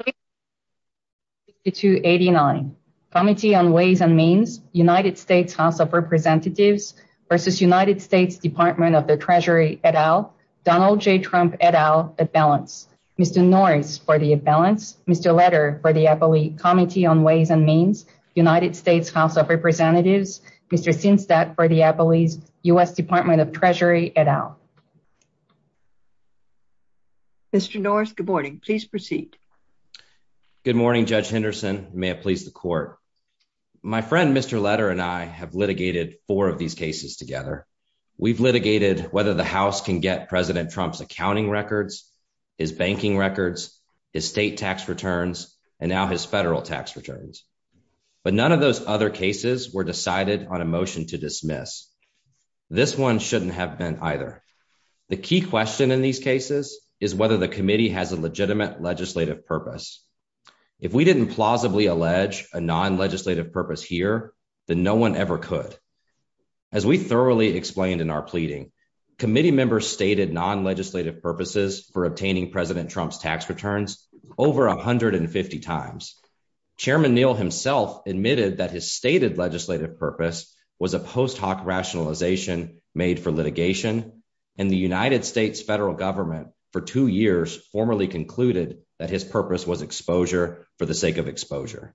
, Donald J. Trump et al, at balance. Mr. Norris, for the at balance. Mr. Letter, for the APOE, Committee on Ways and Means, United States House of Representatives, Mr. Sinstad, for the APOE, U.S. Department of Treasury et al. Mr. Norris, good morning. Please proceed. Good morning, Judge Henderson. May it please the court. My friend, Mr. Letter, and I have litigated four of these cases together. We've litigated whether the House can get President Trump's accounting records, his banking records, his state tax returns, and now his federal tax returns. But none of those other cases were decided on a motion to dismiss. This one shouldn't have been either. The key question in these cases is whether the committee has a legitimate legislative purpose. If we didn't plausibly allege a non-legislative purpose here, then no one ever could. As we thoroughly explained in our pleading, committee members stated non-legislative purposes for obtaining President Trump's tax returns over 150 times. Chairman Neal himself admitted that his stated legislative purpose was a post hoc rationalization made for litigation, and the United States federal government for two years formerly concluded that his purpose was exposure for the sake of exposure.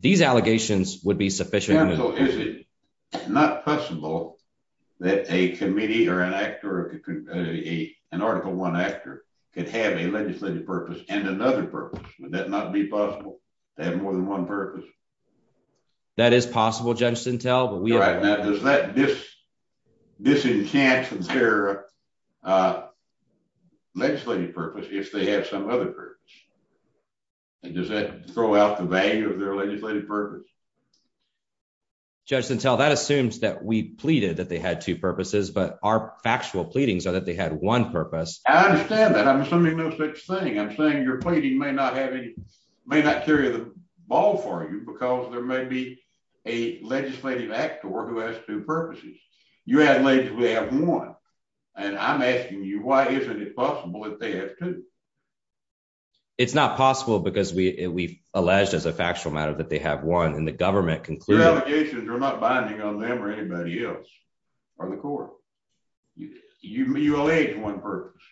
These allegations would be sufficient. Is it not possible that a committee or an actor, an Article 1 actor, could have a legislative purpose and another purpose? Would that not be possible to have more than one purpose? That is possible, Judge Sintel. Does that disenchant their legislative purpose if they have some other purpose? Does that throw out the value of their legislative purpose? Judge Sintel, that assumes that we pleaded that they had two purposes, but our factual pleadings are that they had one purpose. I understand that. I'm assuming no such thing. I'm saying your pleading may not carry the ball for you because there may be a legislative actor who has two purposes. You have one, and I'm asking you, why isn't it possible that they have two? It's not possible because we've alleged as a factual matter that they have one, and the government concluded— Your allegations are not binding on them or anybody else or the court. You allege one purpose,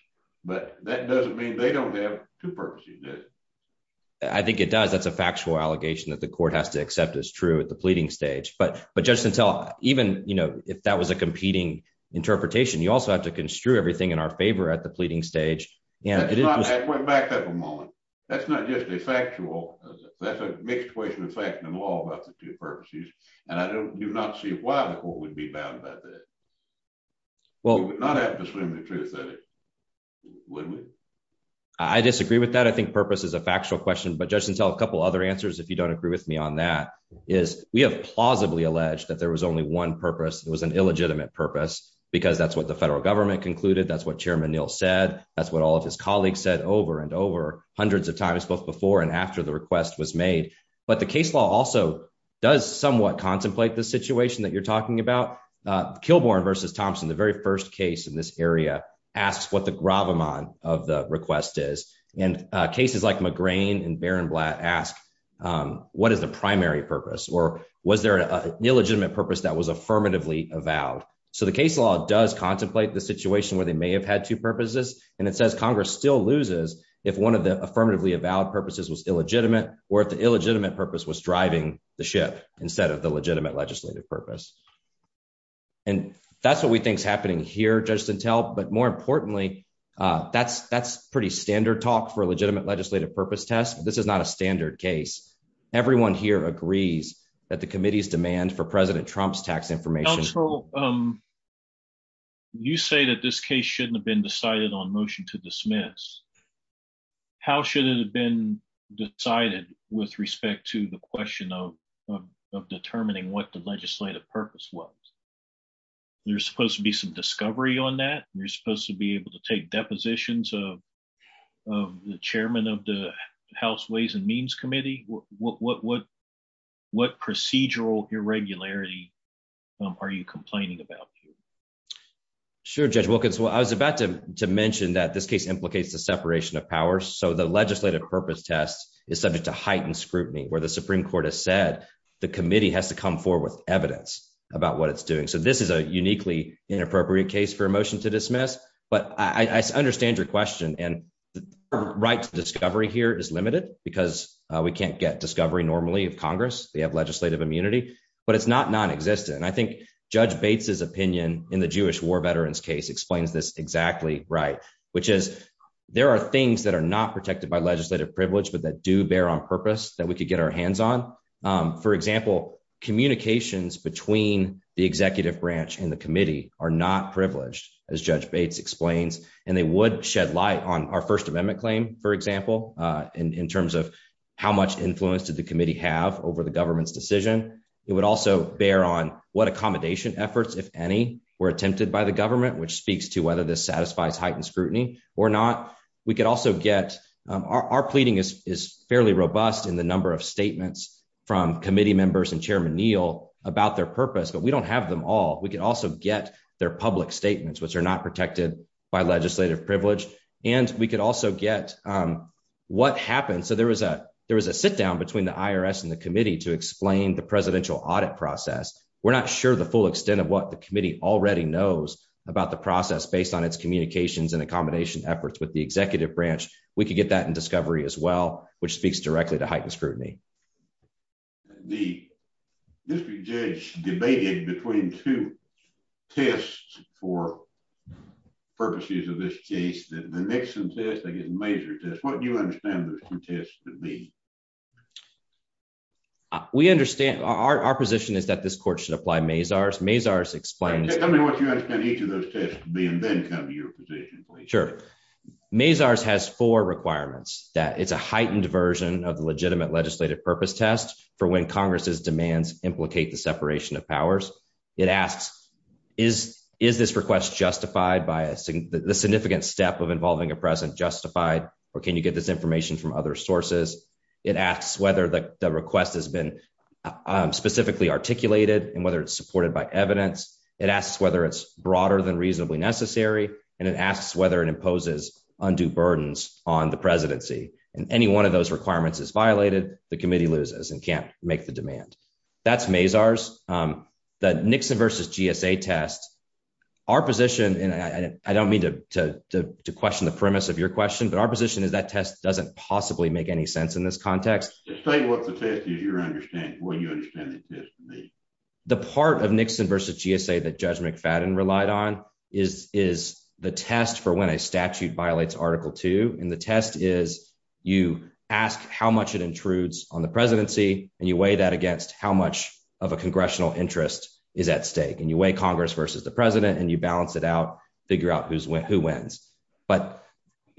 but that doesn't mean they don't have two purposes, does it? I think it does. That's a factual allegation that the court has to accept as true at the pleading stage. But, Judge Sintel, even if that was a competing interpretation, you also have to construe everything in our favor at the pleading stage. Back up a moment. That's not just a factual—that's a mixed question of fact and law about the two purposes, and I do not see why the court would be bound by that. We would not have to assume the truth, would we? I disagree with that. I think purpose is a factual question. But, Judge Sintel, a couple other answers, if you don't agree with me on that, is we have plausibly alleged that there was only one purpose. It was an illegitimate purpose because that's what the federal government concluded. That's what Chairman Neal said. That's what all of his colleagues said over and over hundreds of times, both before and after the request was made. But the case law also does somewhat contemplate the situation that you're talking about. Kilbourn v. Thompson, the very first case in this area, asks what the gravamon of the request is. And cases like McGrain and Berenblatt ask, what is the primary purpose? Or was there an illegitimate purpose that was affirmatively avowed? So the case law does contemplate the situation where they may have had two purposes. And it says Congress still loses if one of the affirmatively avowed purposes was illegitimate, or if the illegitimate purpose was driving the ship instead of the legitimate legislative purpose. And that's what we think is happening here, Judge Sintel. But more importantly, that's pretty standard talk for a legitimate legislative purpose test. This is not a standard case. Everyone here agrees that the committee's demand for President Trump's tax information Counsel, you say that this case shouldn't have been decided on motion to dismiss. How should it have been decided with respect to the question of determining what the legislative purpose was? There's supposed to be some discovery on that. You're supposed to be able to take depositions of the chairman of the House Ways and Means Committee. What procedural irregularity are you complaining about? Sure, Judge Wilkins. Well, I was about to mention that this case implicates the separation of powers. So the legislative purpose test is subject to heightened scrutiny where the Supreme Court has said the committee has to come forward with evidence about what it's doing. So this is a uniquely inappropriate case for a motion to dismiss. But I understand your question. And the right to discovery here is limited because we can't get discovery normally of Congress. They have legislative immunity, but it's not non-existent. And I think Judge Bates's opinion in the Jewish war veterans case explains this exactly right, which is there are things that are not protected by legislative privilege, but that do bear on purpose that we could get our hands on. For example, communications between the executive branch and the committee are not privileged, as Judge Bates explains. And they would shed light on our First Amendment claim, for example, in terms of how much influence did the committee have over the government's decision? It would also bear on what accommodation efforts, if any, were attempted by the government, which speaks to whether this satisfies heightened scrutiny or not. Our pleading is fairly robust in the number of statements from committee members and Chairman Neal about their purpose, but we don't have them all. We could also get their public statements, which are not protected by legislative privilege. And we could also get what happened. So there was a sit-down between the IRS and the committee to explain the presidential audit process. We're not sure the full extent of what the committee already knows about the process based on its communications and accommodation efforts with the executive branch. We could get that in discovery as well, which speaks directly to heightened scrutiny. The district judge debated between two tests for purposes of this case, the Nixon test against the Major test. What do you understand those two tests to be? We understand our position is that this court should apply Mazars. Mazars explains. Tell me what you understand each of those tests to be and then come to your position. Sure. Mazars has four requirements that it's a heightened version of the legitimate legislative purpose test for when Congress's demands implicate the separation of powers. It asks, is this request justified by the significant step of involving a president justified, or can you get this information from other sources? It asks whether the request has been specifically articulated and whether it's supported by evidence. It asks whether it's broader than reasonably necessary. And it asks whether it imposes undue burdens on the presidency. And any one of those requirements is violated. The committee loses and can't make the demand. That's Mazars. The Nixon versus GSA test. Our position, and I don't mean to question the premise of your question, but our position is that test doesn't possibly make any sense in this context. Just say what the test is you're understanding, what you understand the test to be. The part of Nixon versus GSA that Judge McFadden relied on is the test for when a statute violates Article Two. And the test is you ask how much it intrudes on the presidency and you weigh that against how much of a congressional interest is at stake. And you weigh Congress versus the president and you balance it out, figure out who wins. But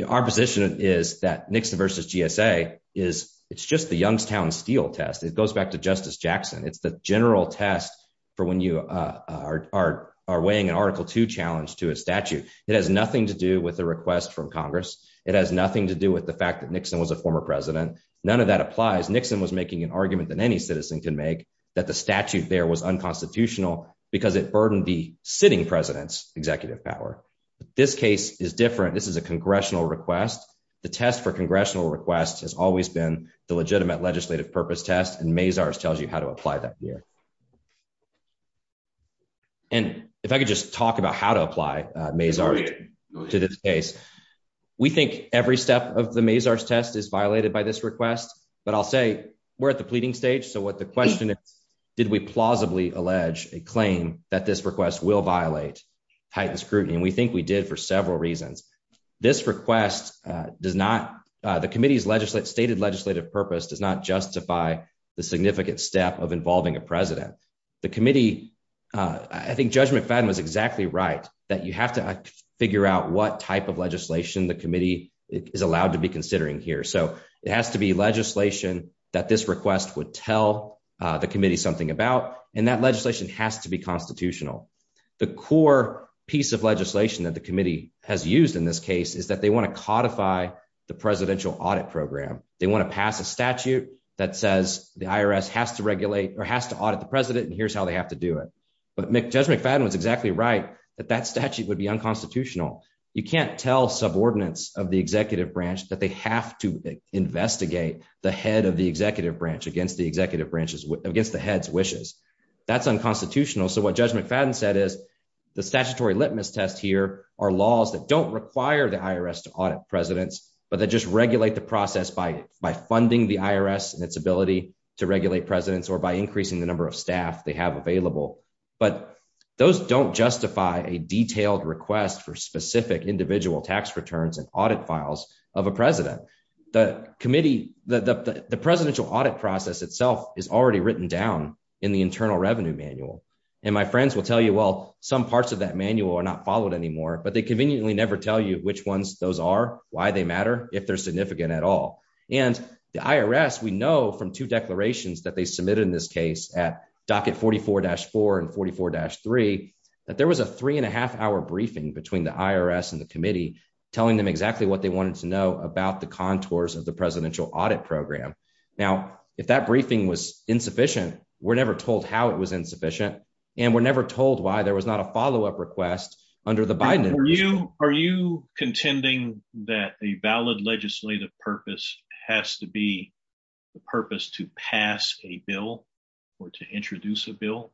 our position is that Nixon versus GSA is it's just the Youngstown Steel test. It goes back to Justice Jackson. It's the general test for when you are weighing an Article Two challenge to a statute. It has nothing to do with the request from Congress. It has nothing to do with the fact that Nixon was a former president. None of that applies. Nixon was making an argument than any citizen can make that the statute there was unconstitutional because it burdened the sitting president's executive power. This case is different. This is a congressional request. The test for congressional requests has always been the legitimate legislative purpose test and Mazars tells you how to apply that here. And if I could just talk about how to apply Mazars to this case. We think every step of the Mazars test is violated by this request. But I'll say we're at the pleading stage. So what the question is, did we plausibly allege a claim that this request will violate heightened scrutiny? And we think we did for several reasons. This request does not the committee's legislative stated legislative purpose does not justify the significant step of involving a president. The committee, I think Judge McFadden was exactly right that you have to figure out what type of legislation the committee is allowed to be considering here. So it has to be legislation that this request would tell the committee something about. And that legislation has to be constitutional. The core piece of legislation that the committee has used in this case is that they want to codify the presidential audit program. They want to pass a statute that says the IRS has to regulate or has to audit the president. And here's how they have to do it. But Judge McFadden was exactly right that that statute would be unconstitutional. You can't tell subordinates of the executive branch that they have to investigate the head of the executive branch against the executive branches against the head's wishes. That's unconstitutional. So what Judge McFadden said is the statutory litmus test here are laws that don't require the IRS to audit presidents, but they just regulate the process by by funding the IRS and its ability to regulate presidents or by increasing the number of staff they have available. But those don't justify a detailed request for specific individual tax returns and audit files of a president. The committee, the presidential audit process itself is already written down in the internal revenue manual. And my friends will tell you, well, some parts of that manual are not followed anymore, but they conveniently never tell you which ones those are, why they matter, if they're significant at all. And the IRS, we know from two declarations that they submitted in this case at docket 44-4 and 44-3, that there was a three and a half hour briefing between the IRS and the committee telling them exactly what they wanted to know about the contours of the presidential audit program. Now, if that briefing was insufficient, we're never told how it was insufficient and we're never told why there was not a follow up request under the Biden administration. Are you contending that a valid legislative purpose has to be the purpose to pass a bill or to introduce a bill?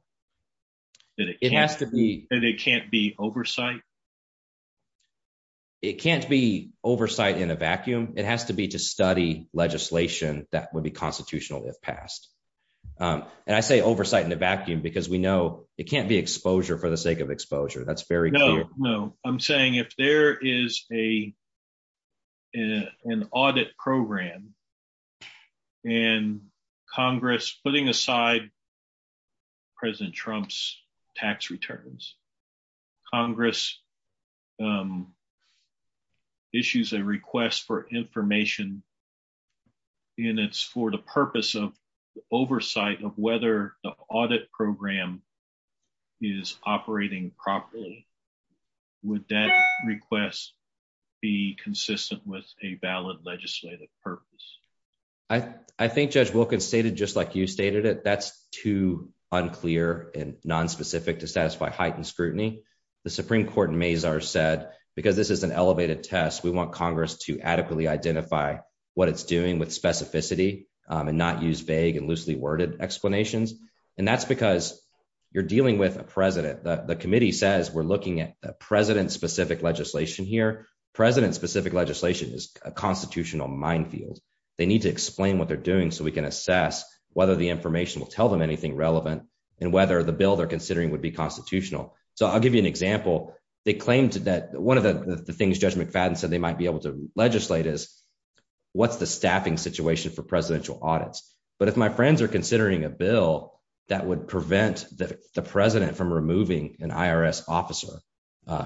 It has to be. And it can't be oversight? It can't be oversight in a vacuum. It has to be to study legislation that would be constitutional if passed. And I say oversight in the vacuum because we know it can't be exposure for the sake of exposure. That's very clear. No, I'm saying if there is an audit program and Congress putting aside President Trump's tax returns, Congress issues a request for information. And it's for the purpose of oversight of whether the audit program is operating properly. Would that request be consistent with a valid legislative purpose? I think Judge Wilkins stated just like you stated it, that's too unclear and nonspecific to satisfy heightened scrutiny. The Supreme Court in Mazars said because this is an elevated test, we want Congress to adequately identify what it's doing with specificity and not use vague and loosely worded explanations. And that's because you're dealing with a president. The committee says we're looking at a president specific legislation here. President specific legislation is a constitutional minefield. They need to explain what they're doing so we can assess whether the information will tell them anything relevant and whether the bill they're considering would be constitutional. So I'll give you an example. They claimed that one of the things Judge McFadden said they might be able to legislate is what's the staffing situation for presidential audits. But if my friends are considering a bill that would prevent the president from removing an IRS officer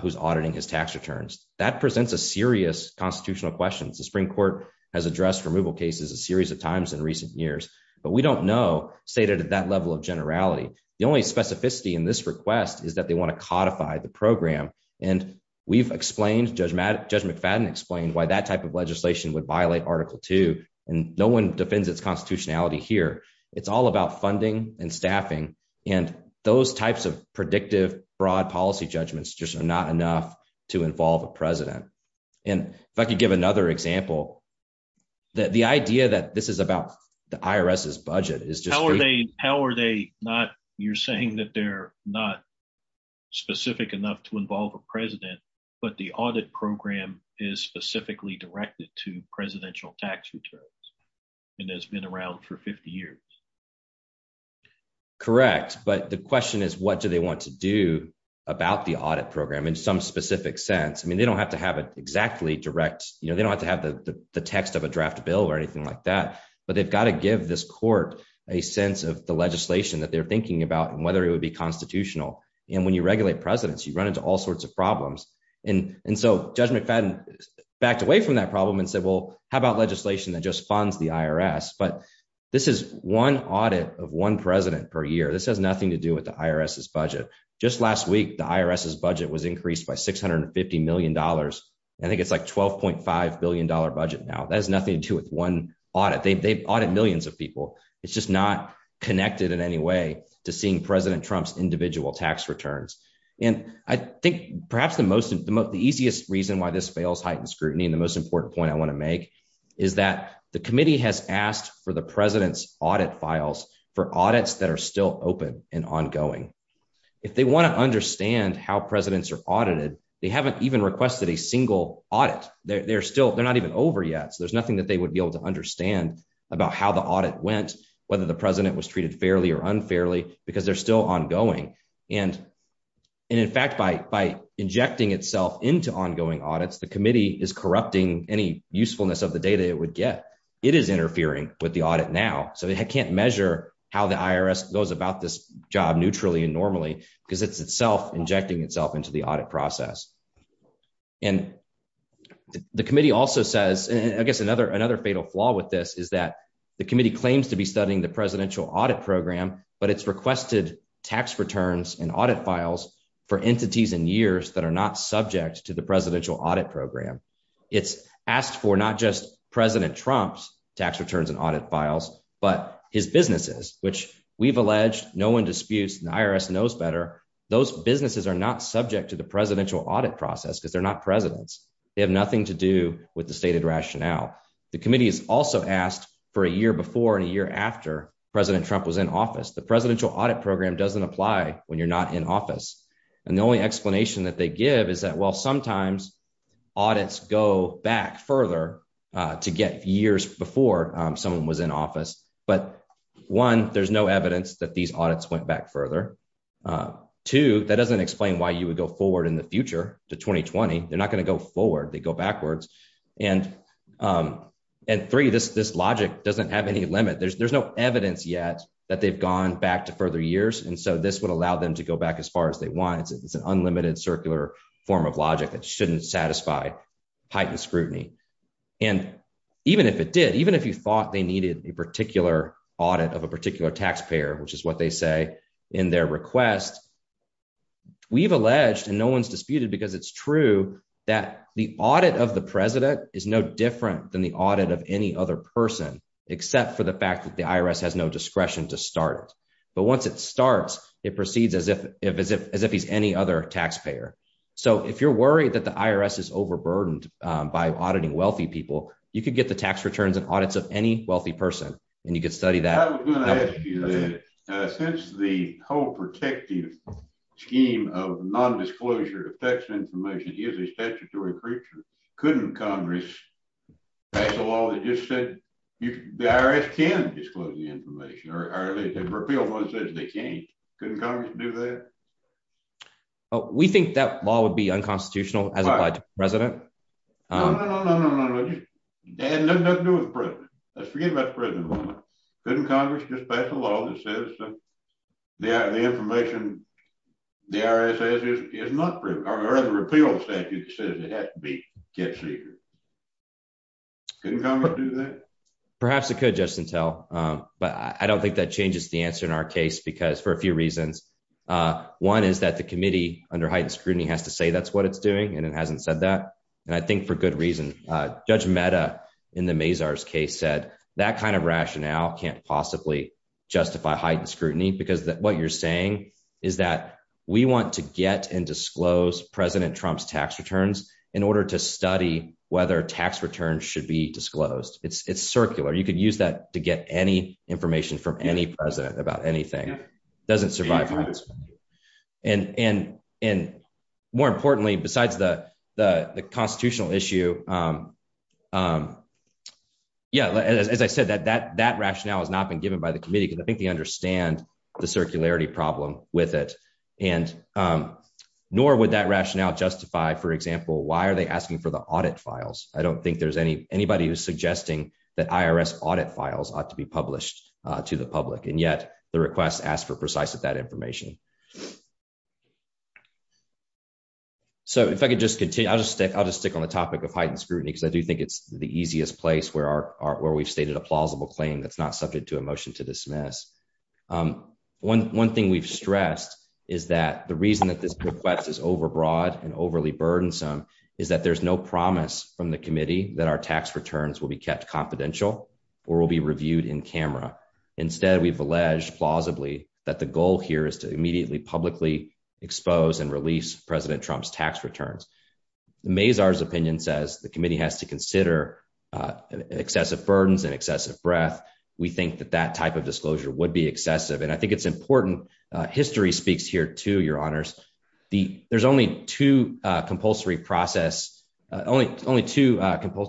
who's auditing his tax returns, that presents a serious constitutional questions. The Supreme Court has addressed removal cases a series of times in recent years, but we don't know stated at that level of generality. The only specificity in this request is that they want to codify the program. And we've explained, Judge McFadden explained why that type of legislation would violate Article 2. And no one defends its constitutionality here. It's all about funding and staffing. And those types of predictive broad policy judgments just are not enough to involve a president. And if I could give another example, the idea that this is about the IRS's budget is just... How are they not, you're saying that they're not specific enough to involve a president, but the audit program is specifically directed to presidential tax returns and has been around for 50 years? Correct. But the question is, what do they want to do about the audit program in some specific sense? I mean, they don't have to have it exactly direct. They don't have to have the text of a draft bill or anything like that. But they've got to give this court a sense of the legislation that they're thinking about and whether it would be constitutional. And when you regulate presidents, you run into all sorts of problems. And so Judge McFadden backed away from that problem and said, well, how about legislation that just funds the IRS? But this is one audit of one president per year. This has nothing to do with the IRS's budget. Just last week, the IRS's budget was increased by $650 million. I think it's like $12.5 billion budget now. That has nothing to do with one audit. They've audited millions of people. It's just not connected in any way to seeing President Trump's individual tax returns. And I think perhaps the easiest reason why this fails heightened scrutiny and the most important point I want to make is that the committee has asked for the president's audit files for audits that are still open and ongoing. If they want to understand how presidents are audited, they haven't even requested a single audit. They're not even over yet. So there's nothing that they would be able to understand about how the audit went, whether the president was treated fairly or unfairly, because they're still ongoing. And in fact, by injecting itself into ongoing audits, the committee is corrupting any usefulness of the data it would get. It is interfering with the audit now, so they can't measure how the IRS goes about this job neutrally and normally because it's itself injecting itself into the audit process. And the committee also says, I guess another fatal flaw with this is that the committee claims to be studying the presidential audit program, but it's requested tax returns and audit files for entities and years that are not subject to the presidential audit program. It's asked for not just President Trump's tax returns and audit files, but his businesses, which we've alleged no one disputes and the IRS knows better. Those businesses are not subject to the presidential audit process because they're not presidents. They have nothing to do with the stated rationale. The committee has also asked for a year before and a year after President Trump was in office. The presidential audit program doesn't apply when you're not in office. And the only explanation that they give is that, well, sometimes audits go back further to get years before someone was in office. But one, there's no evidence that these audits went back further. Two, that doesn't explain why you would go forward in the future to 2020. They're not going to go forward. They go backwards. And three, this logic doesn't have any limit. There's no evidence yet that they've gone back to further years. And so this would allow them to go back as far as they want. It's an unlimited circular form of logic that shouldn't satisfy heightened scrutiny. And even if it did, even if you thought they needed a particular audit of a particular taxpayer, which is what they say in their request. We've alleged and no one's disputed because it's true that the audit of the president is no different than the audit of any other person, except for the fact that the IRS has no discretion to start. But once it starts, it proceeds as if as if as if he's any other taxpayer. So if you're worried that the IRS is overburdened by auditing wealthy people, you could get the tax returns and audits of any wealthy person. And you could study that. Since the whole protective scheme of non-disclosure of tax information is a statutory creature. Couldn't Congress pass a law that just said the IRS can disclose the information or repeal what it says they can't? Couldn't Congress do that? We think that law would be unconstitutional as applied to the president. No, no, no, no, no, no, no, no, no. It had nothing to do with the president. Let's forget about the president for a moment. Couldn't Congress just pass a law that says the information the IRS says is not proven or rather repeals statute that says it has to be kept secret? Couldn't Congress do that? Perhaps it could, Justice Sattell. But I don't think that changes the answer in our case because for a few reasons. One is that the committee under heightened scrutiny has to say that's what it's doing. And it hasn't said that. And I think for good reason. Judge Mehta in the Mazars case said that kind of rationale can't possibly justify heightened scrutiny because what you're saying is that we want to get and disclose President Trump's tax returns in order to study whether tax returns should be disclosed. It's circular. You could use that to get any information from any president about anything. Doesn't survive. And, and, and, more importantly, besides the, the constitutional issue. Yeah, as I said that that that rationale has not been given by the committee because I think they understand the circularity problem with it. And nor would that rationale justify for example why are they asking for the audit files, I don't think there's any anybody who's asked for precise at that information. So if I could just continue I'll just stick I'll just stick on the topic of heightened scrutiny because I do think it's the easiest place where our where we've stated a plausible claim that's not subject to a motion to dismiss. One, one thing we've stressed is that the reason that this request is overbroad and overly burdensome, is that there's no promise from the committee that our tax returns will be kept confidential, or will be reviewed in camera. Instead, we've alleged plausibly that the goal here is to immediately publicly expose and release President Trump's tax returns. Mazars opinion says the committee has to consider excessive burdens and excessive breath. We think that that type of disclosure would be excessive and I think it's important history speaks here to your honors the, there's only two compulsory process, only, only two,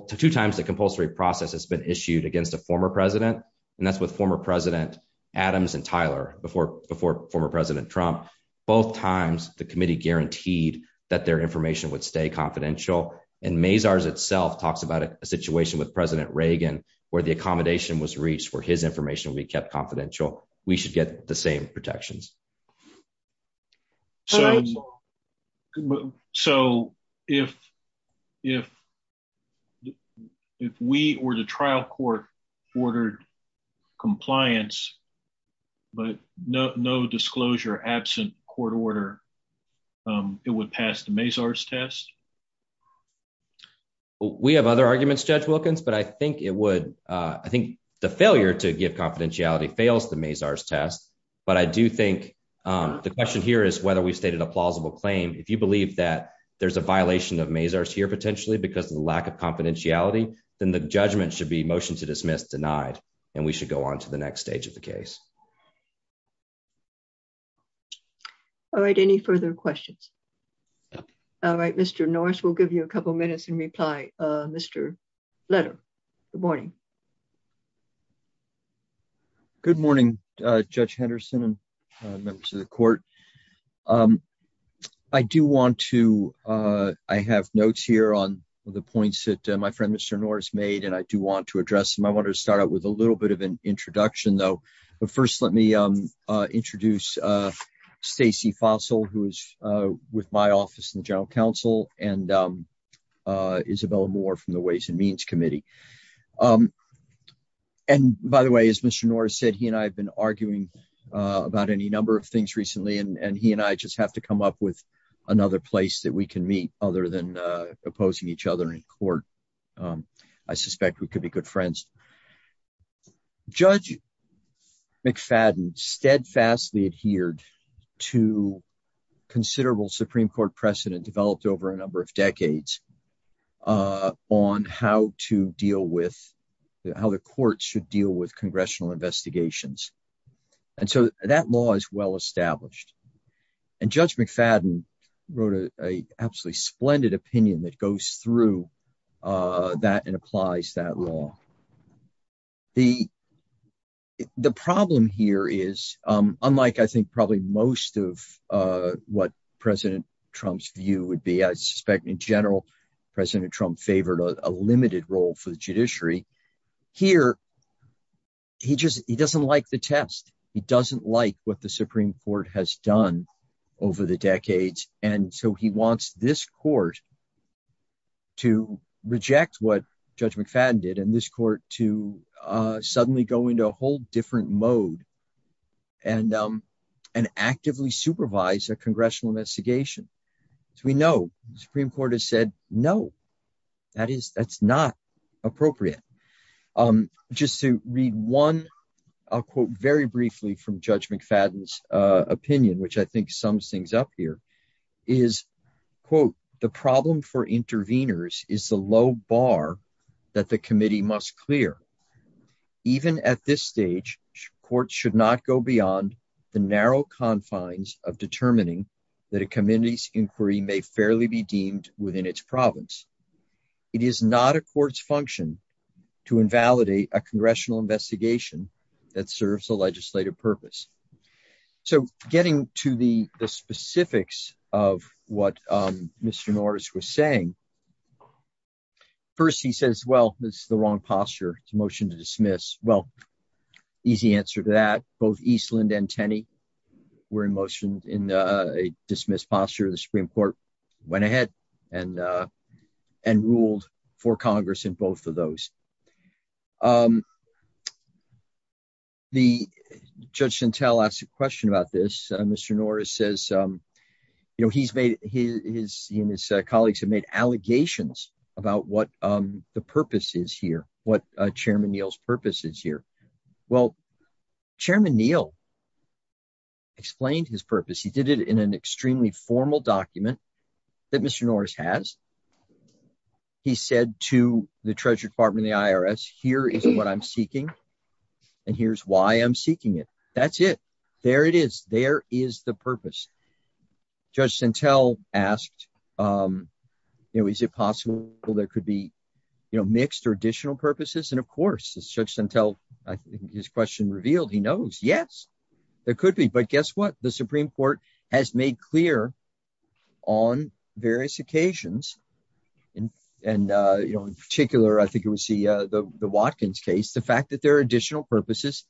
two times the compulsory process has been issued against a former president. And that's what former President Adams and Tyler before before former President Trump, both times, the committee guaranteed that their information would stay confidential and Mazars itself talks about a situation with President Reagan, where the accommodation was reached for his information we kept confidential, we should get the same protections. So, so, if, if, if we were to trial court ordered compliance, but no disclosure absent court order. It would pass the Mazars test. We have other arguments judge Wilkins but I think it would. I think the failure to give confidentiality fails the Mazars test, but I do think the question here is whether we stated a plausible claim if you believe that there's a violation of Mazars here potentially because of the lack of confidentiality, then the judgment should be motion to dismiss denied, and we should go on to the next stage of the case. All right, any further questions. All right, Mr Norris will give you a couple minutes and reply. Mr. Letter. Good morning. Good morning, Judge Henderson and members of the court. I do want to. I have notes here on the points that my friend Mr Norris made and I do want to address them I want to start out with a little bit of an introduction though. But first let me introduce Stacey fossil who is with my office and general counsel, and Isabella more from the Ways and Means Committee. And by the way, as Mr Norris said he and I have been arguing about any number of things recently and he and I just have to come up with another place that we can meet, other than opposing each other in court. I suspect we could be good friends. Judge McFadden steadfastly adhered to considerable Supreme Court precedent developed over a number of decades on how to deal with how the courts should deal with congressional investigations. And so that law is well established. And Judge McFadden wrote a absolutely splendid opinion that goes through that and applies that law. The, the problem here is, unlike I think probably most of what President Trump's view would be I suspect in general, President Trump favored a limited role for the judiciary here. He just, he doesn't like the test. He doesn't like what the Supreme Court has done over the decades, and so he wants this court to reject what Judge McFadden did and this court to suddenly go into a whole different mode and, and actively supervise a congressional investigation. As we know, the Supreme Court has said, No, that is, that's not appropriate. Just to read one, I'll quote very briefly from Judge McFadden's opinion which I think sums things up here is, quote, the problem for interveners is the low bar that the committee must clear. Even at this stage, courts should not go beyond the narrow confines of determining that a committee's inquiry may fairly be deemed within its province. It is not a court's function to invalidate a congressional investigation that serves a legislative purpose. So, getting to the specifics of what Mr. Norris was saying. First he says well this is the wrong posture to motion to dismiss. Well, easy answer to that, both Eastland and Tenney were in motion in a dismissed posture the Supreme Court went ahead and and ruled for Congress in both of those. The judge and tell us a question about this, Mr. Norris says, you know, he's made his, his colleagues have made allegations about what the purpose is here, what Chairman Neal's purpose is here. Well, Chairman Neal explained his purpose he did it in an extremely formal document that Mr Norris has. He said to the Treasury Department the IRS here is what I'm seeking. And here's why I'm seeking it. That's it. There it is, there is the purpose. Just until asked, you know, is it possible, there could be, you know, mixed or additional purposes and of course it's just until his question revealed he knows yes, there could be but guess what the Supreme Court has made clear on various occasions. And, and, you know, in particular I think it was the, the Watkins case the fact that there are additional purposes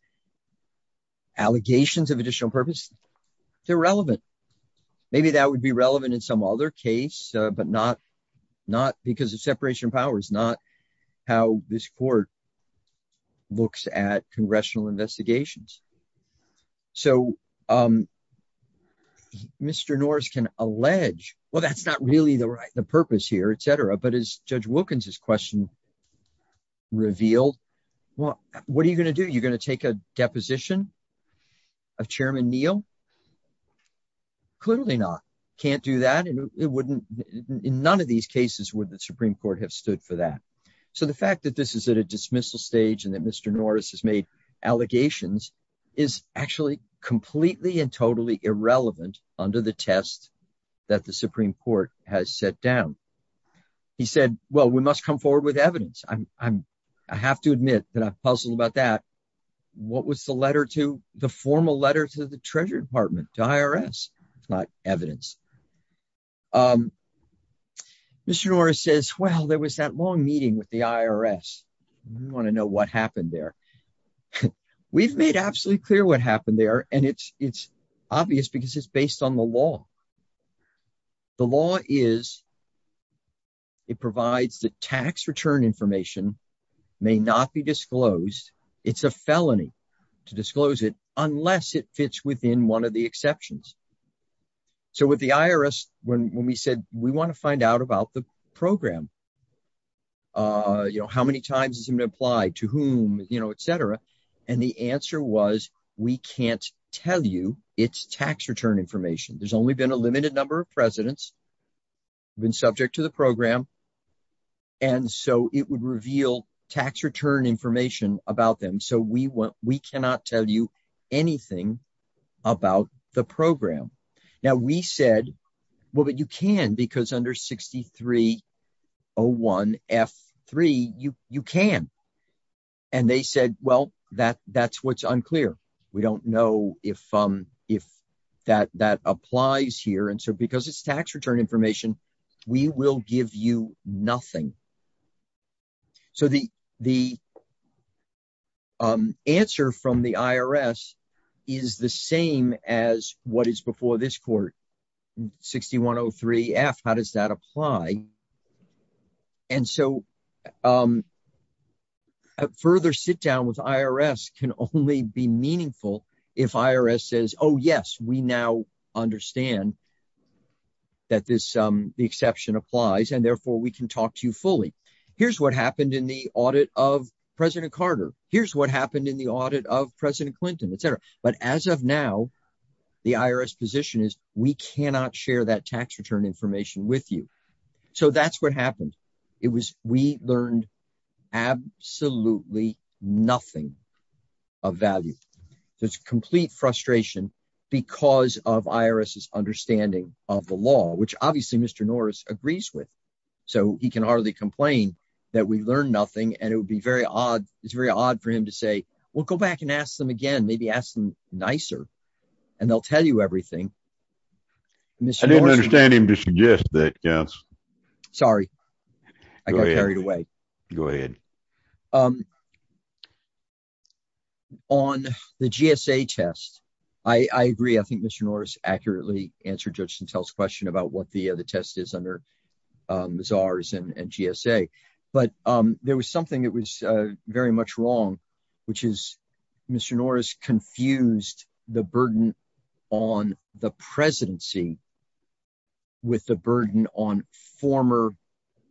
allegations of additional purpose. They're relevant. Maybe that would be relevant in some other case, but not, not because of separation of powers not how this court looks at congressional investigations. So, um, Mr Norris can allege, well that's not really the right the purpose here etc but as Judge Wilkins his question revealed. Well, what are you going to do you're going to take a deposition of Chairman Neal. Clearly not can't do that and it wouldn't. In none of these cases with the Supreme Court have stood for that. So the fact that this is at a dismissal stage and that Mr Norris has made allegations is actually completely and totally irrelevant under the test that the Supreme Court has set down. He said, Well, we must come forward with evidence, I'm, I'm, I have to admit that I'm puzzled about that. What was the letter to the formal letter to the Treasury Department to IRS. It's not evidence. Mr Norris says, Well, there was that long meeting with the IRS want to know what happened there. We've made absolutely clear what happened there and it's, it's obvious because it's based on the law. The law is. It provides the tax return information may not be disclosed. It's a felony to disclose it, unless it fits within one of the exceptions. So with the IRS, when we said we want to find out about the program. You know how many times has been applied to whom, you know, etc. And the answer was, we can't tell you it's tax return information there's only been a limited number of presidents been subject to the program. And so it would reveal tax return information about them so we want, we cannot tell you anything about the program. Now we said, Well, but you can because under 6301 F3 you, you can. And they said, Well, that that's what's unclear. We don't know if, if that that applies here and so because it's tax return information, we will give you nothing. So the, the answer from the IRS is the same as what is before this court 6103 F, how does that apply. And so, further sit down with IRS can only be meaningful. If IRS says oh yes we now understand that this, the exception applies and therefore we can talk to you fully. Here's what happened in the audit of President Carter, here's what happened in the audit of President Clinton etc. But as of now, the IRS position is, we cannot share that tax return information with you. So that's what happened. It was, we learned absolutely nothing of value. There's complete frustration, because of IRS is understanding of the law which obviously Mr Norris agrees with. So he can hardly complain that we learn nothing and it would be very odd. It's very odd for him to say, we'll go back and ask them again maybe ask them nicer. And they'll tell you everything. I didn't understand him to suggest that yes. Sorry. I got carried away. Go ahead. On the GSA test. I agree I think Mr Norris accurately answered Justin tells question about what the other test is under czars and GSA, but there was something that was very much wrong, which is Mr Norris confused, the burden on the presidency, with the burden on former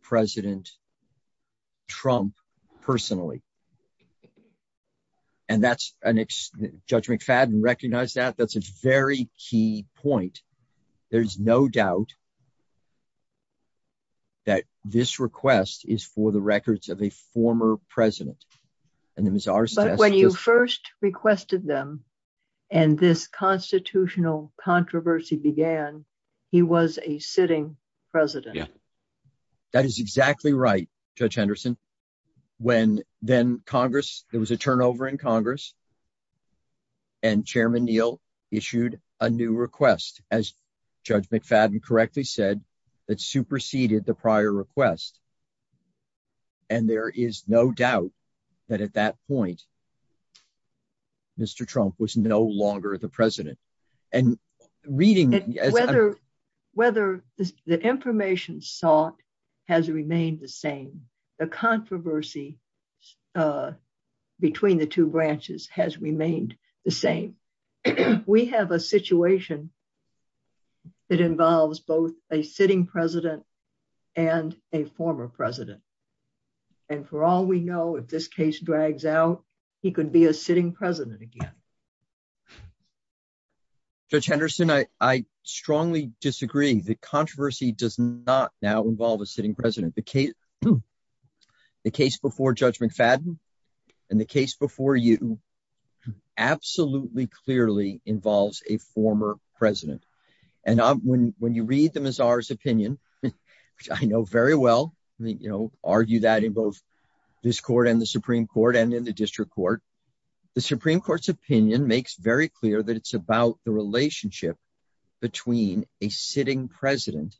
President Trump, personally. And that's a next judgment fad and recognize that that's a very key point. There's no doubt that this request is for the records of a former president. And it was ours when you first requested them. And this constitutional controversy began. He was a sitting president. That is exactly right. Judge Henderson. When then Congress, there was a turnover in Congress and Chairman Neil issued a new request, as Judge McFadden correctly said that superseded the prior request. And there is no doubt that at that point, Mr Trump was no longer the president and reading, whether, whether the information sought has remained the same, the controversy between the two branches has remained the same. We have a situation. It involves both a sitting president and a former president. And for all we know if this case drags out, he could be a sitting president again. Judge Henderson, I strongly disagree. The controversy does not now involve a sitting president. The case before Judge McFadden and the case before you absolutely clearly involves a former president. And when you read them as ours opinion, I know very well, you know, argue that in both this court and the Supreme Court and in the district court. The Supreme Court's opinion makes very clear that it's about the relationship between a sitting president,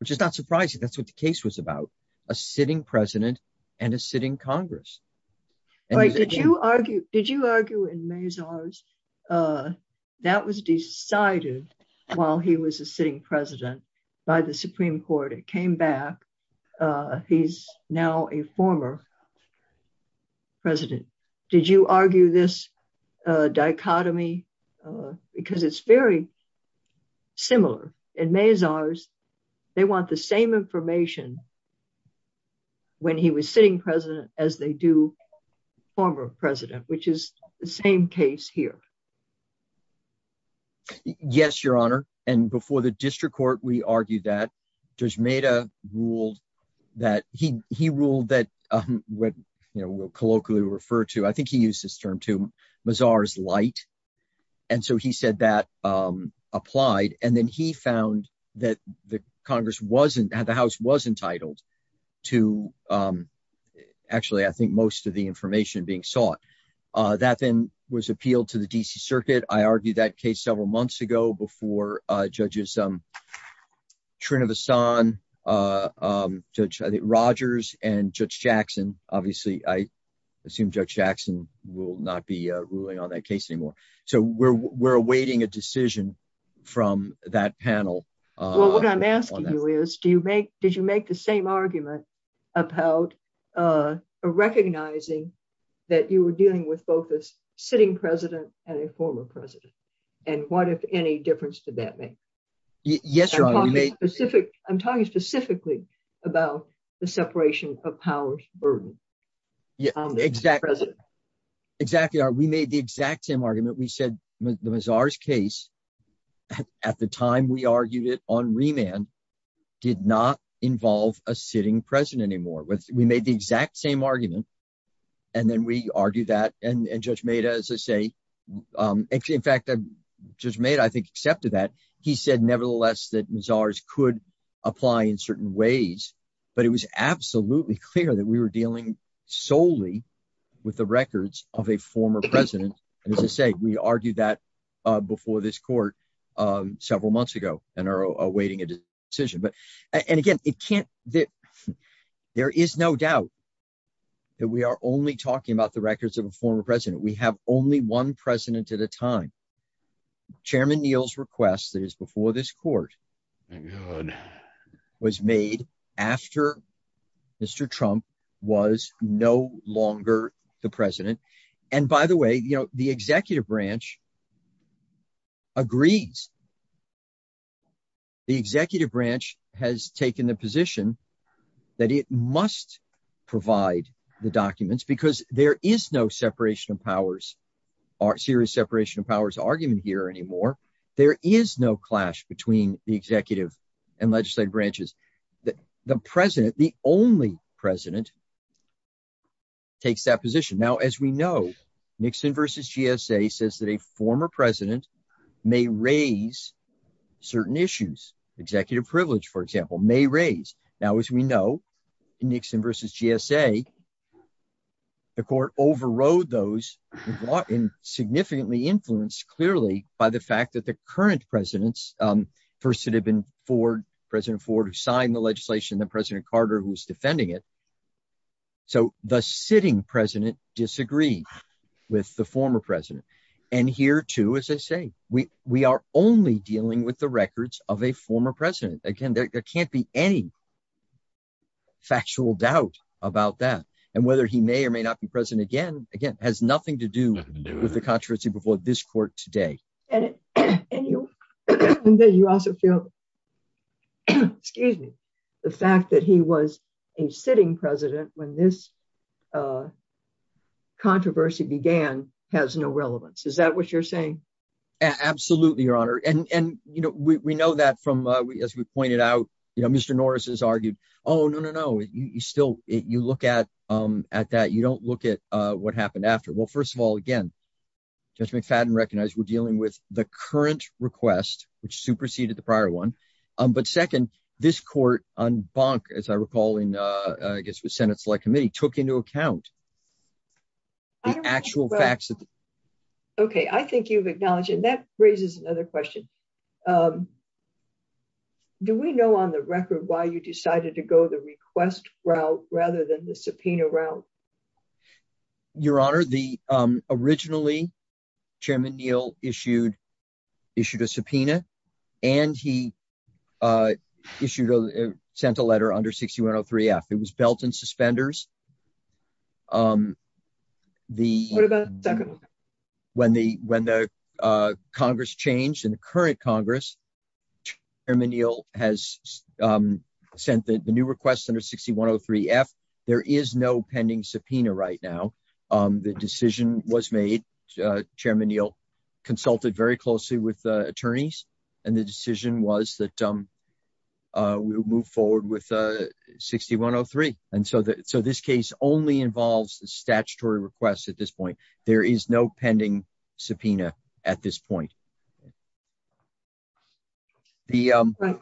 which is not surprising that's what the case was about a sitting president, and a sitting Congress. Did you argue, did you argue in Mays ours. That was decided while he was a sitting president by the Supreme Court it came back. He's now a former president. Did you argue this dichotomy, because it's very similar in Mays ours. They want the same information. When he was sitting president, as they do. Former President, which is the same case here. Yes, Your Honor, and before the district court we argued that there's made a rule that he, he ruled that when you know will colloquially refer to I think he used this term to Miss ours light. And so he said that applied and then he found that the Congress wasn't at the house was entitled to. Actually, I think most of the information being sought that then was appealed to the DC circuit I argued that case several months ago before judges. Trina the sun. Judge Rogers and Judge Jackson, obviously, I assume Judge Jackson will not be ruling on that case anymore. So we're we're awaiting a decision from that panel. What I'm asking you is do you make, did you make the same argument about recognizing that you were dealing with both this sitting president, and a former president. And what if any difference to that me. Yes, I'm talking specifically about the separation of powers burden. Yeah, exactly. Exactly are we made the exact same argument we said was ours case. At the time we argued it on remand did not involve a sitting president anymore with we made the exact same argument. And then we argue that and Judge made as I say. In fact, I just made I think accepted that he said nevertheless that Miss ours could apply in certain ways, but it was absolutely clear that we were dealing solely with the records of a former president. And as I say, we argued that before this court, several months ago, and are awaiting a decision but. And again, it can't that there is no doubt that we are only talking about the records of a former president we have only one president at a time. Chairman Neal's request that is before this court was made after Mr. Trump was no longer the president. And by the way, you know, the executive branch agrees. The executive branch has taken the position that it must provide the documents because there is no separation of powers are serious separation of powers argument here anymore. There is no clash between the executive and legislative branches that the president, the only president takes that position now as we know, Nixon versus GSA says that a former president may raise certain issues executive privilege, for example, may raise now as we know, Nixon versus GSA. The court overrode those in significantly influenced clearly by the fact that the current presidents, first it had been for President Ford who signed the legislation that President Carter who was defending it. So, the sitting president disagree with the former president. And here too as I say, we, we are only dealing with the records of a former president, again, there can't be any factual doubt about that. And whether he may or may not be present again, again, has nothing to do with the controversy before this court today. And you also feel, excuse me, the fact that he was a sitting president when this controversy began has no relevance is that what you're saying. Absolutely, Your Honor, and you know we know that from, as we pointed out, you know, Mr Norris has argued, oh no no no you still, you look at, at that you don't look at what happened after well first of all again, just make fat and recognize we're dealing with the current request, which superseded the prior one. But second, this court on bonk as I recall in, I guess with Senate Select Committee took into account actual facts. Okay, I think you've acknowledged and that raises another question. Do we know on the record why you decided to go the request route, rather than the subpoena route. Your Honor, the originally Chairman Neal issued issued a subpoena, and he issued a sent a letter under 6103 f it was built in suspenders. The. When the, when the Congress changed in the current Congress. Manil has sent the new request under 6103 f. There is no pending subpoena right now. The decision was made. Chairman Neal consulted very closely with attorneys, and the decision was that we move forward with 6103, and so that so this case only involves the statutory requests at this point, there is no pending subpoena. At this point. The.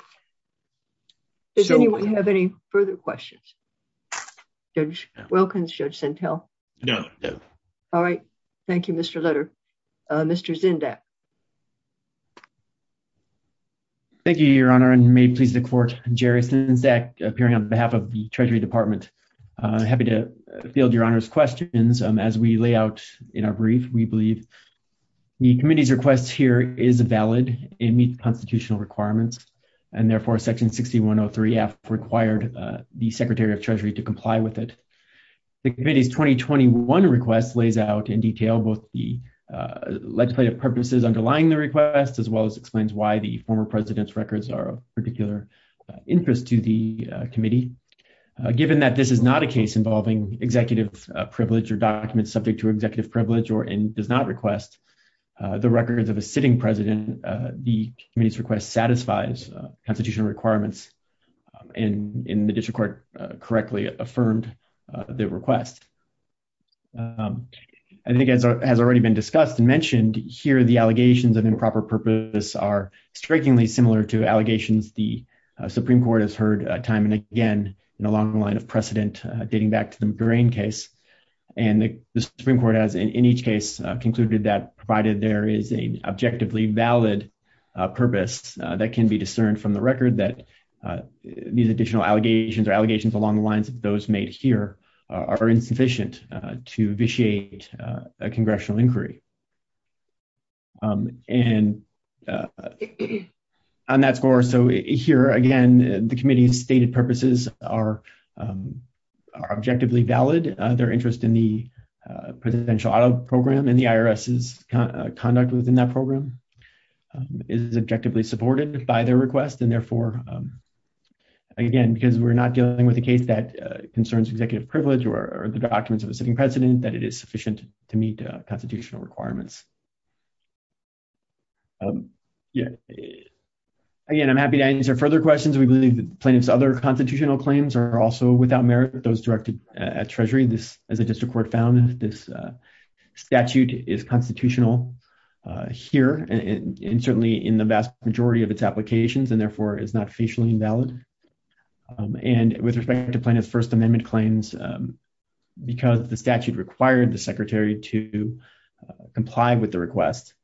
Does anyone have any further questions. Judge Wilkins judge Intel. No. All right. Thank you, Mr letter. Mr Zenda. Thank you, Your Honor and may please the court, Jerry since that appearing on behalf of the Treasury Department. Happy to field Your Honor's questions as we lay out in our brief, we believe the committee's requests here is a valid in the constitutional requirements, and therefore section 6103 F required the Secretary of Treasury to comply with it. The committee's 2021 request lays out in detail both the legislative purposes underlying the request as well as explains why the former president's records are particular interest to the committee, given that this is not a case involving executive privilege or documents subject to executive privilege or in does not request the records of a sitting president. The committee's request satisfies constitutional requirements in the district court correctly affirmed the request. I think it has already been discussed and mentioned here the allegations of improper purpose are strikingly similar to allegations the Supreme Court has heard time and again, and along the line of precedent, dating back to the brain case, and the Supreme Court has not been sufficient to vitiate a congressional inquiry. And on that score so here again, the committee's stated purposes are are objectively valid, their interest in the presidential auto program and the IRS's conduct within that program is objectively supported by their request and therefore, again, because we're not dealing with a case that concerns executive privilege or the documents of a sitting president that it is sufficient to meet constitutional requirements. Yeah. Again, I'm happy to answer further questions we believe the plaintiffs other constitutional claims are also without merit those directed at Treasury this as a district court found this statute is constitutional here, and certainly in the vast majority of its applications and therefore is not officially invalid. And with respect to plaintiff First Amendment claims, because the statute required the secretary to comply with the request.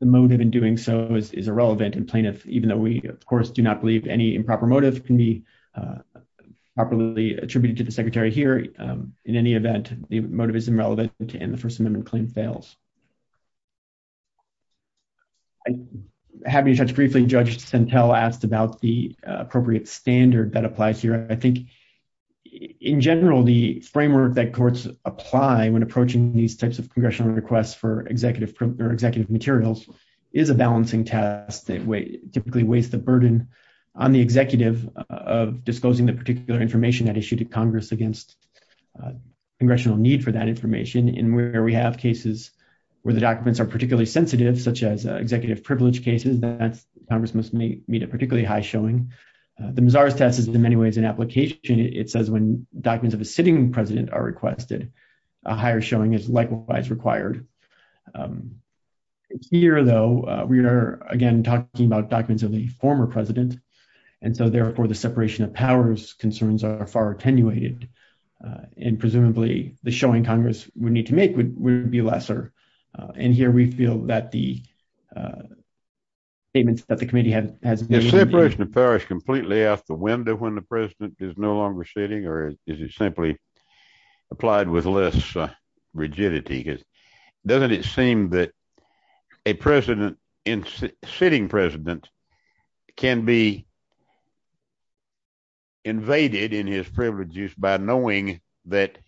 The motive in doing so is irrelevant and plaintiff, even though we of course do not believe any improper motive can be properly attributed to the secretary here. In any event, the motive is irrelevant, and the First Amendment claim fails. I haven't touched briefly judge and tell asked about the appropriate standard that applies here, I think, in general, the framework that courts apply when approaching these types of congressional requests for executive executive materials is a balancing task that way typically waste the burden on the executive of disclosing the particular information that issued to Congress against congressional need for that information in where we have cases where the documents are particularly sensitive such as executive privilege cases that Congress must meet meet a particularly high showing the bizarre test is in many ways an application, it says when documents of a sitting president are requested a higher showing is likewise required. Here, though, we are again talking about documents of the former president. And so therefore the separation of powers concerns are far attenuated in presumably the showing Congress, we need to make would be lesser. And here we feel that the statements that the committee has completely out the window when the president is no longer sitting or is it simply applied with less rigidity is, doesn't it seem that a president in sitting president can be invaded in his privileges by knowing that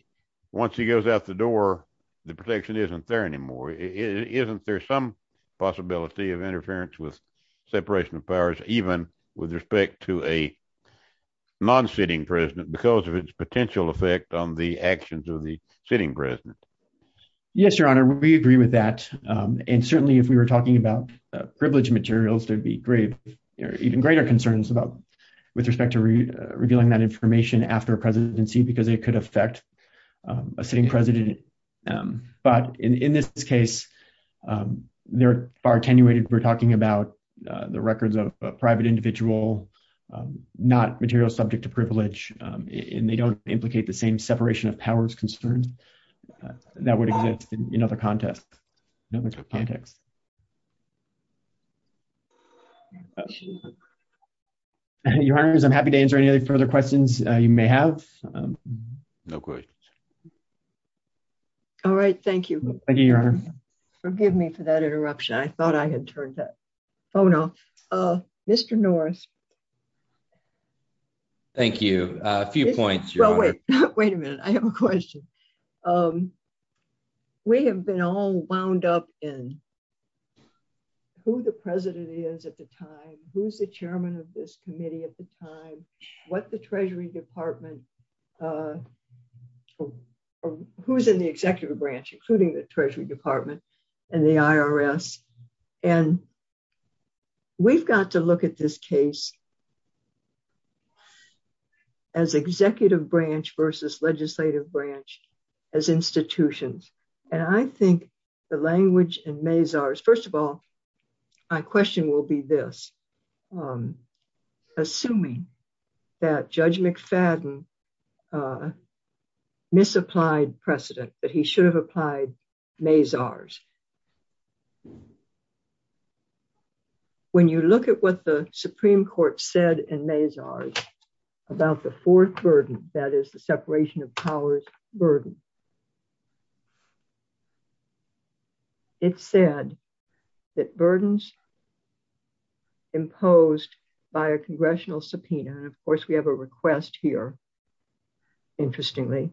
once he goes out the door. The protection isn't there anymore isn't there some possibility of interference with separation of powers, even with respect to a non sitting president because of its potential effect on the actions of the sitting president. Yes, Your Honor, we agree with that. And certainly if we were talking about privilege materials, there'd be great, even greater concerns about with respect to revealing that information after presidency because it could affect a sitting president. But in this case, they're far attenuated we're talking about the records of private individual, not material subject to privilege in they don't implicate the same separation of powers concerns that would exist in other context. Your Honor, I'm happy to answer any further questions you may have. No questions. All right, thank you. Thank you, Your Honor. Forgive me for that interruption I thought I had turned that phone off. Mr Norris. Thank you. A few points. Wait a minute, I have a question. We have been all wound up in who the president is at the time, who's the chairman of this committee at the time, what the Treasury Department. Who's in the executive branch, including the Treasury Department, and the IRS. And we've got to look at this case as executive branch versus legislative branch as institutions. And I think the language and maze ours. First of all, I question will be this. Assuming that Judge McFadden misapplied precedent that he should have applied maze ours. When you look at what the Supreme Court said and maze ours about the fourth burden, that is the separation of powers burden. It said that burdens imposed by a congressional subpoena and of course we have a request here. Interestingly,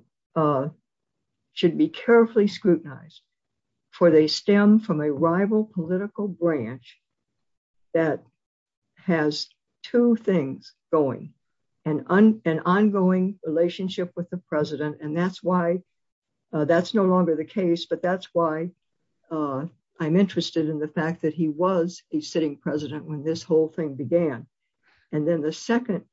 should be carefully scrutinized for they stem from a rival political branch that has two things going and on an ongoing relationship with the president and that's why that's no longer the case but that's why I'm interested in the fact that he was a sitting president when this whole thing began. And then the second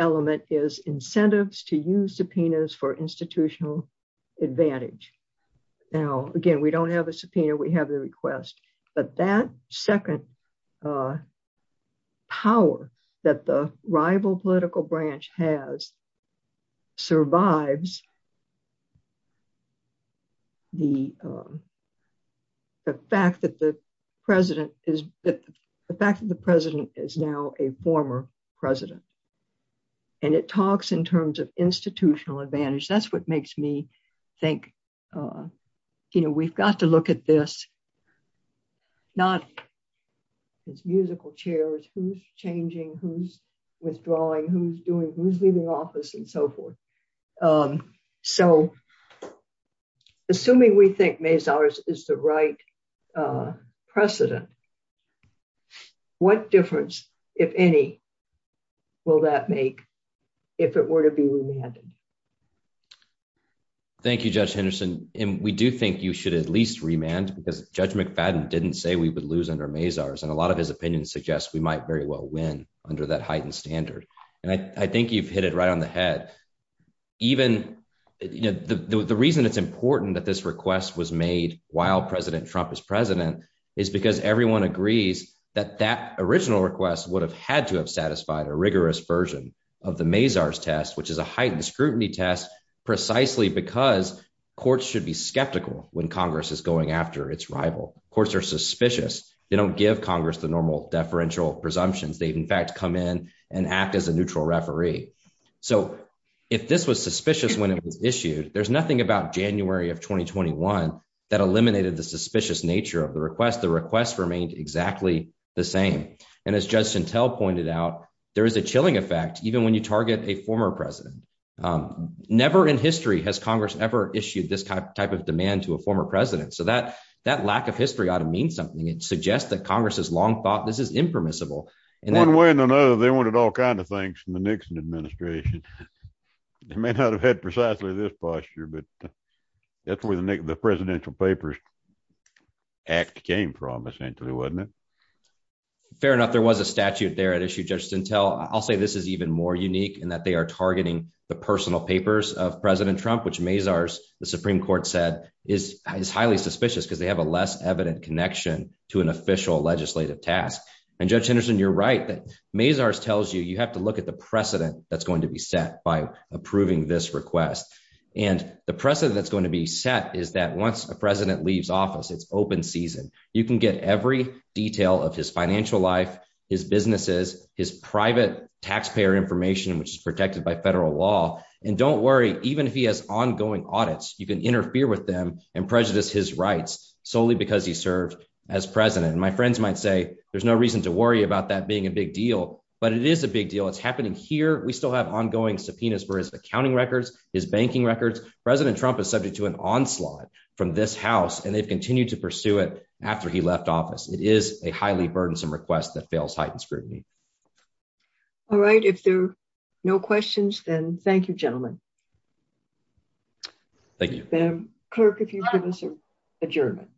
element is incentives to use subpoenas for institutional advantage. Now, again, we don't have a subpoena, we have the request, but that second power that the rival political branch has survives the fact that the president is now a former president. And it talks in terms of institutional advantage that's what makes me think, you know, we've got to look at this, not musical chairs who's changing who's withdrawing who's doing who's leaving office and so forth. So, assuming we think maze ours is the right precedent. What difference, if any, will that make. If it were to be. Thank you, Judge Henderson, and we do think you should at least remand because Judge McFadden didn't say we would lose under maze ours and a lot of his opinion suggests we might very well win under that heightened standard. And I think you've hit it right on the head. Even the reason it's important that this request was made, while President Trump is president is because everyone agrees that that original request would have had to have satisfied a rigorous version of the maze ours test which is a heightened scrutiny test, precisely because courts should be skeptical when Congress is going after its rival courts are suspicious, they don't give Congress the normal deferential presumptions they've in fact come in and act as a neutral referee. So, if this was suspicious when it was issued, there's nothing about January of 2021 that eliminated the suspicious nature of the request the request remained exactly the same. And as Justin tell pointed out, there is a chilling effect, even when you target a former president. Never in history has Congress ever issued this kind of type of demand to a former president so that that lack of history ought to mean something it suggests that Congress has long thought this is impermissible. And one way or another, they wanted all kinds of things in the Nixon administration. They may not have had precisely this posture but that's where the presidential papers act came from essentially wasn't it fair enough there was a statute there at issue just until I'll say this is even more unique and that they are targeting the personal you have to look at the precedent, that's going to be set by approving this request. And the precedent that's going to be set is that once a president leaves office it's open season, you can get every detail of his financial life, his businesses, his private taxpayer information which is protected by federal law, and don't worry, even if he has ongoing that being a big deal, but it is a big deal it's happening here we still have ongoing subpoenas for his accounting records, his banking records, President Trump is subject to an onslaught from this house and they've continued to pursue it. After he left office, it is a highly burdensome request that fails heightened scrutiny. All right, if there are no questions, then thank you gentlemen. Thank you, Kirk if you give us an adjournment.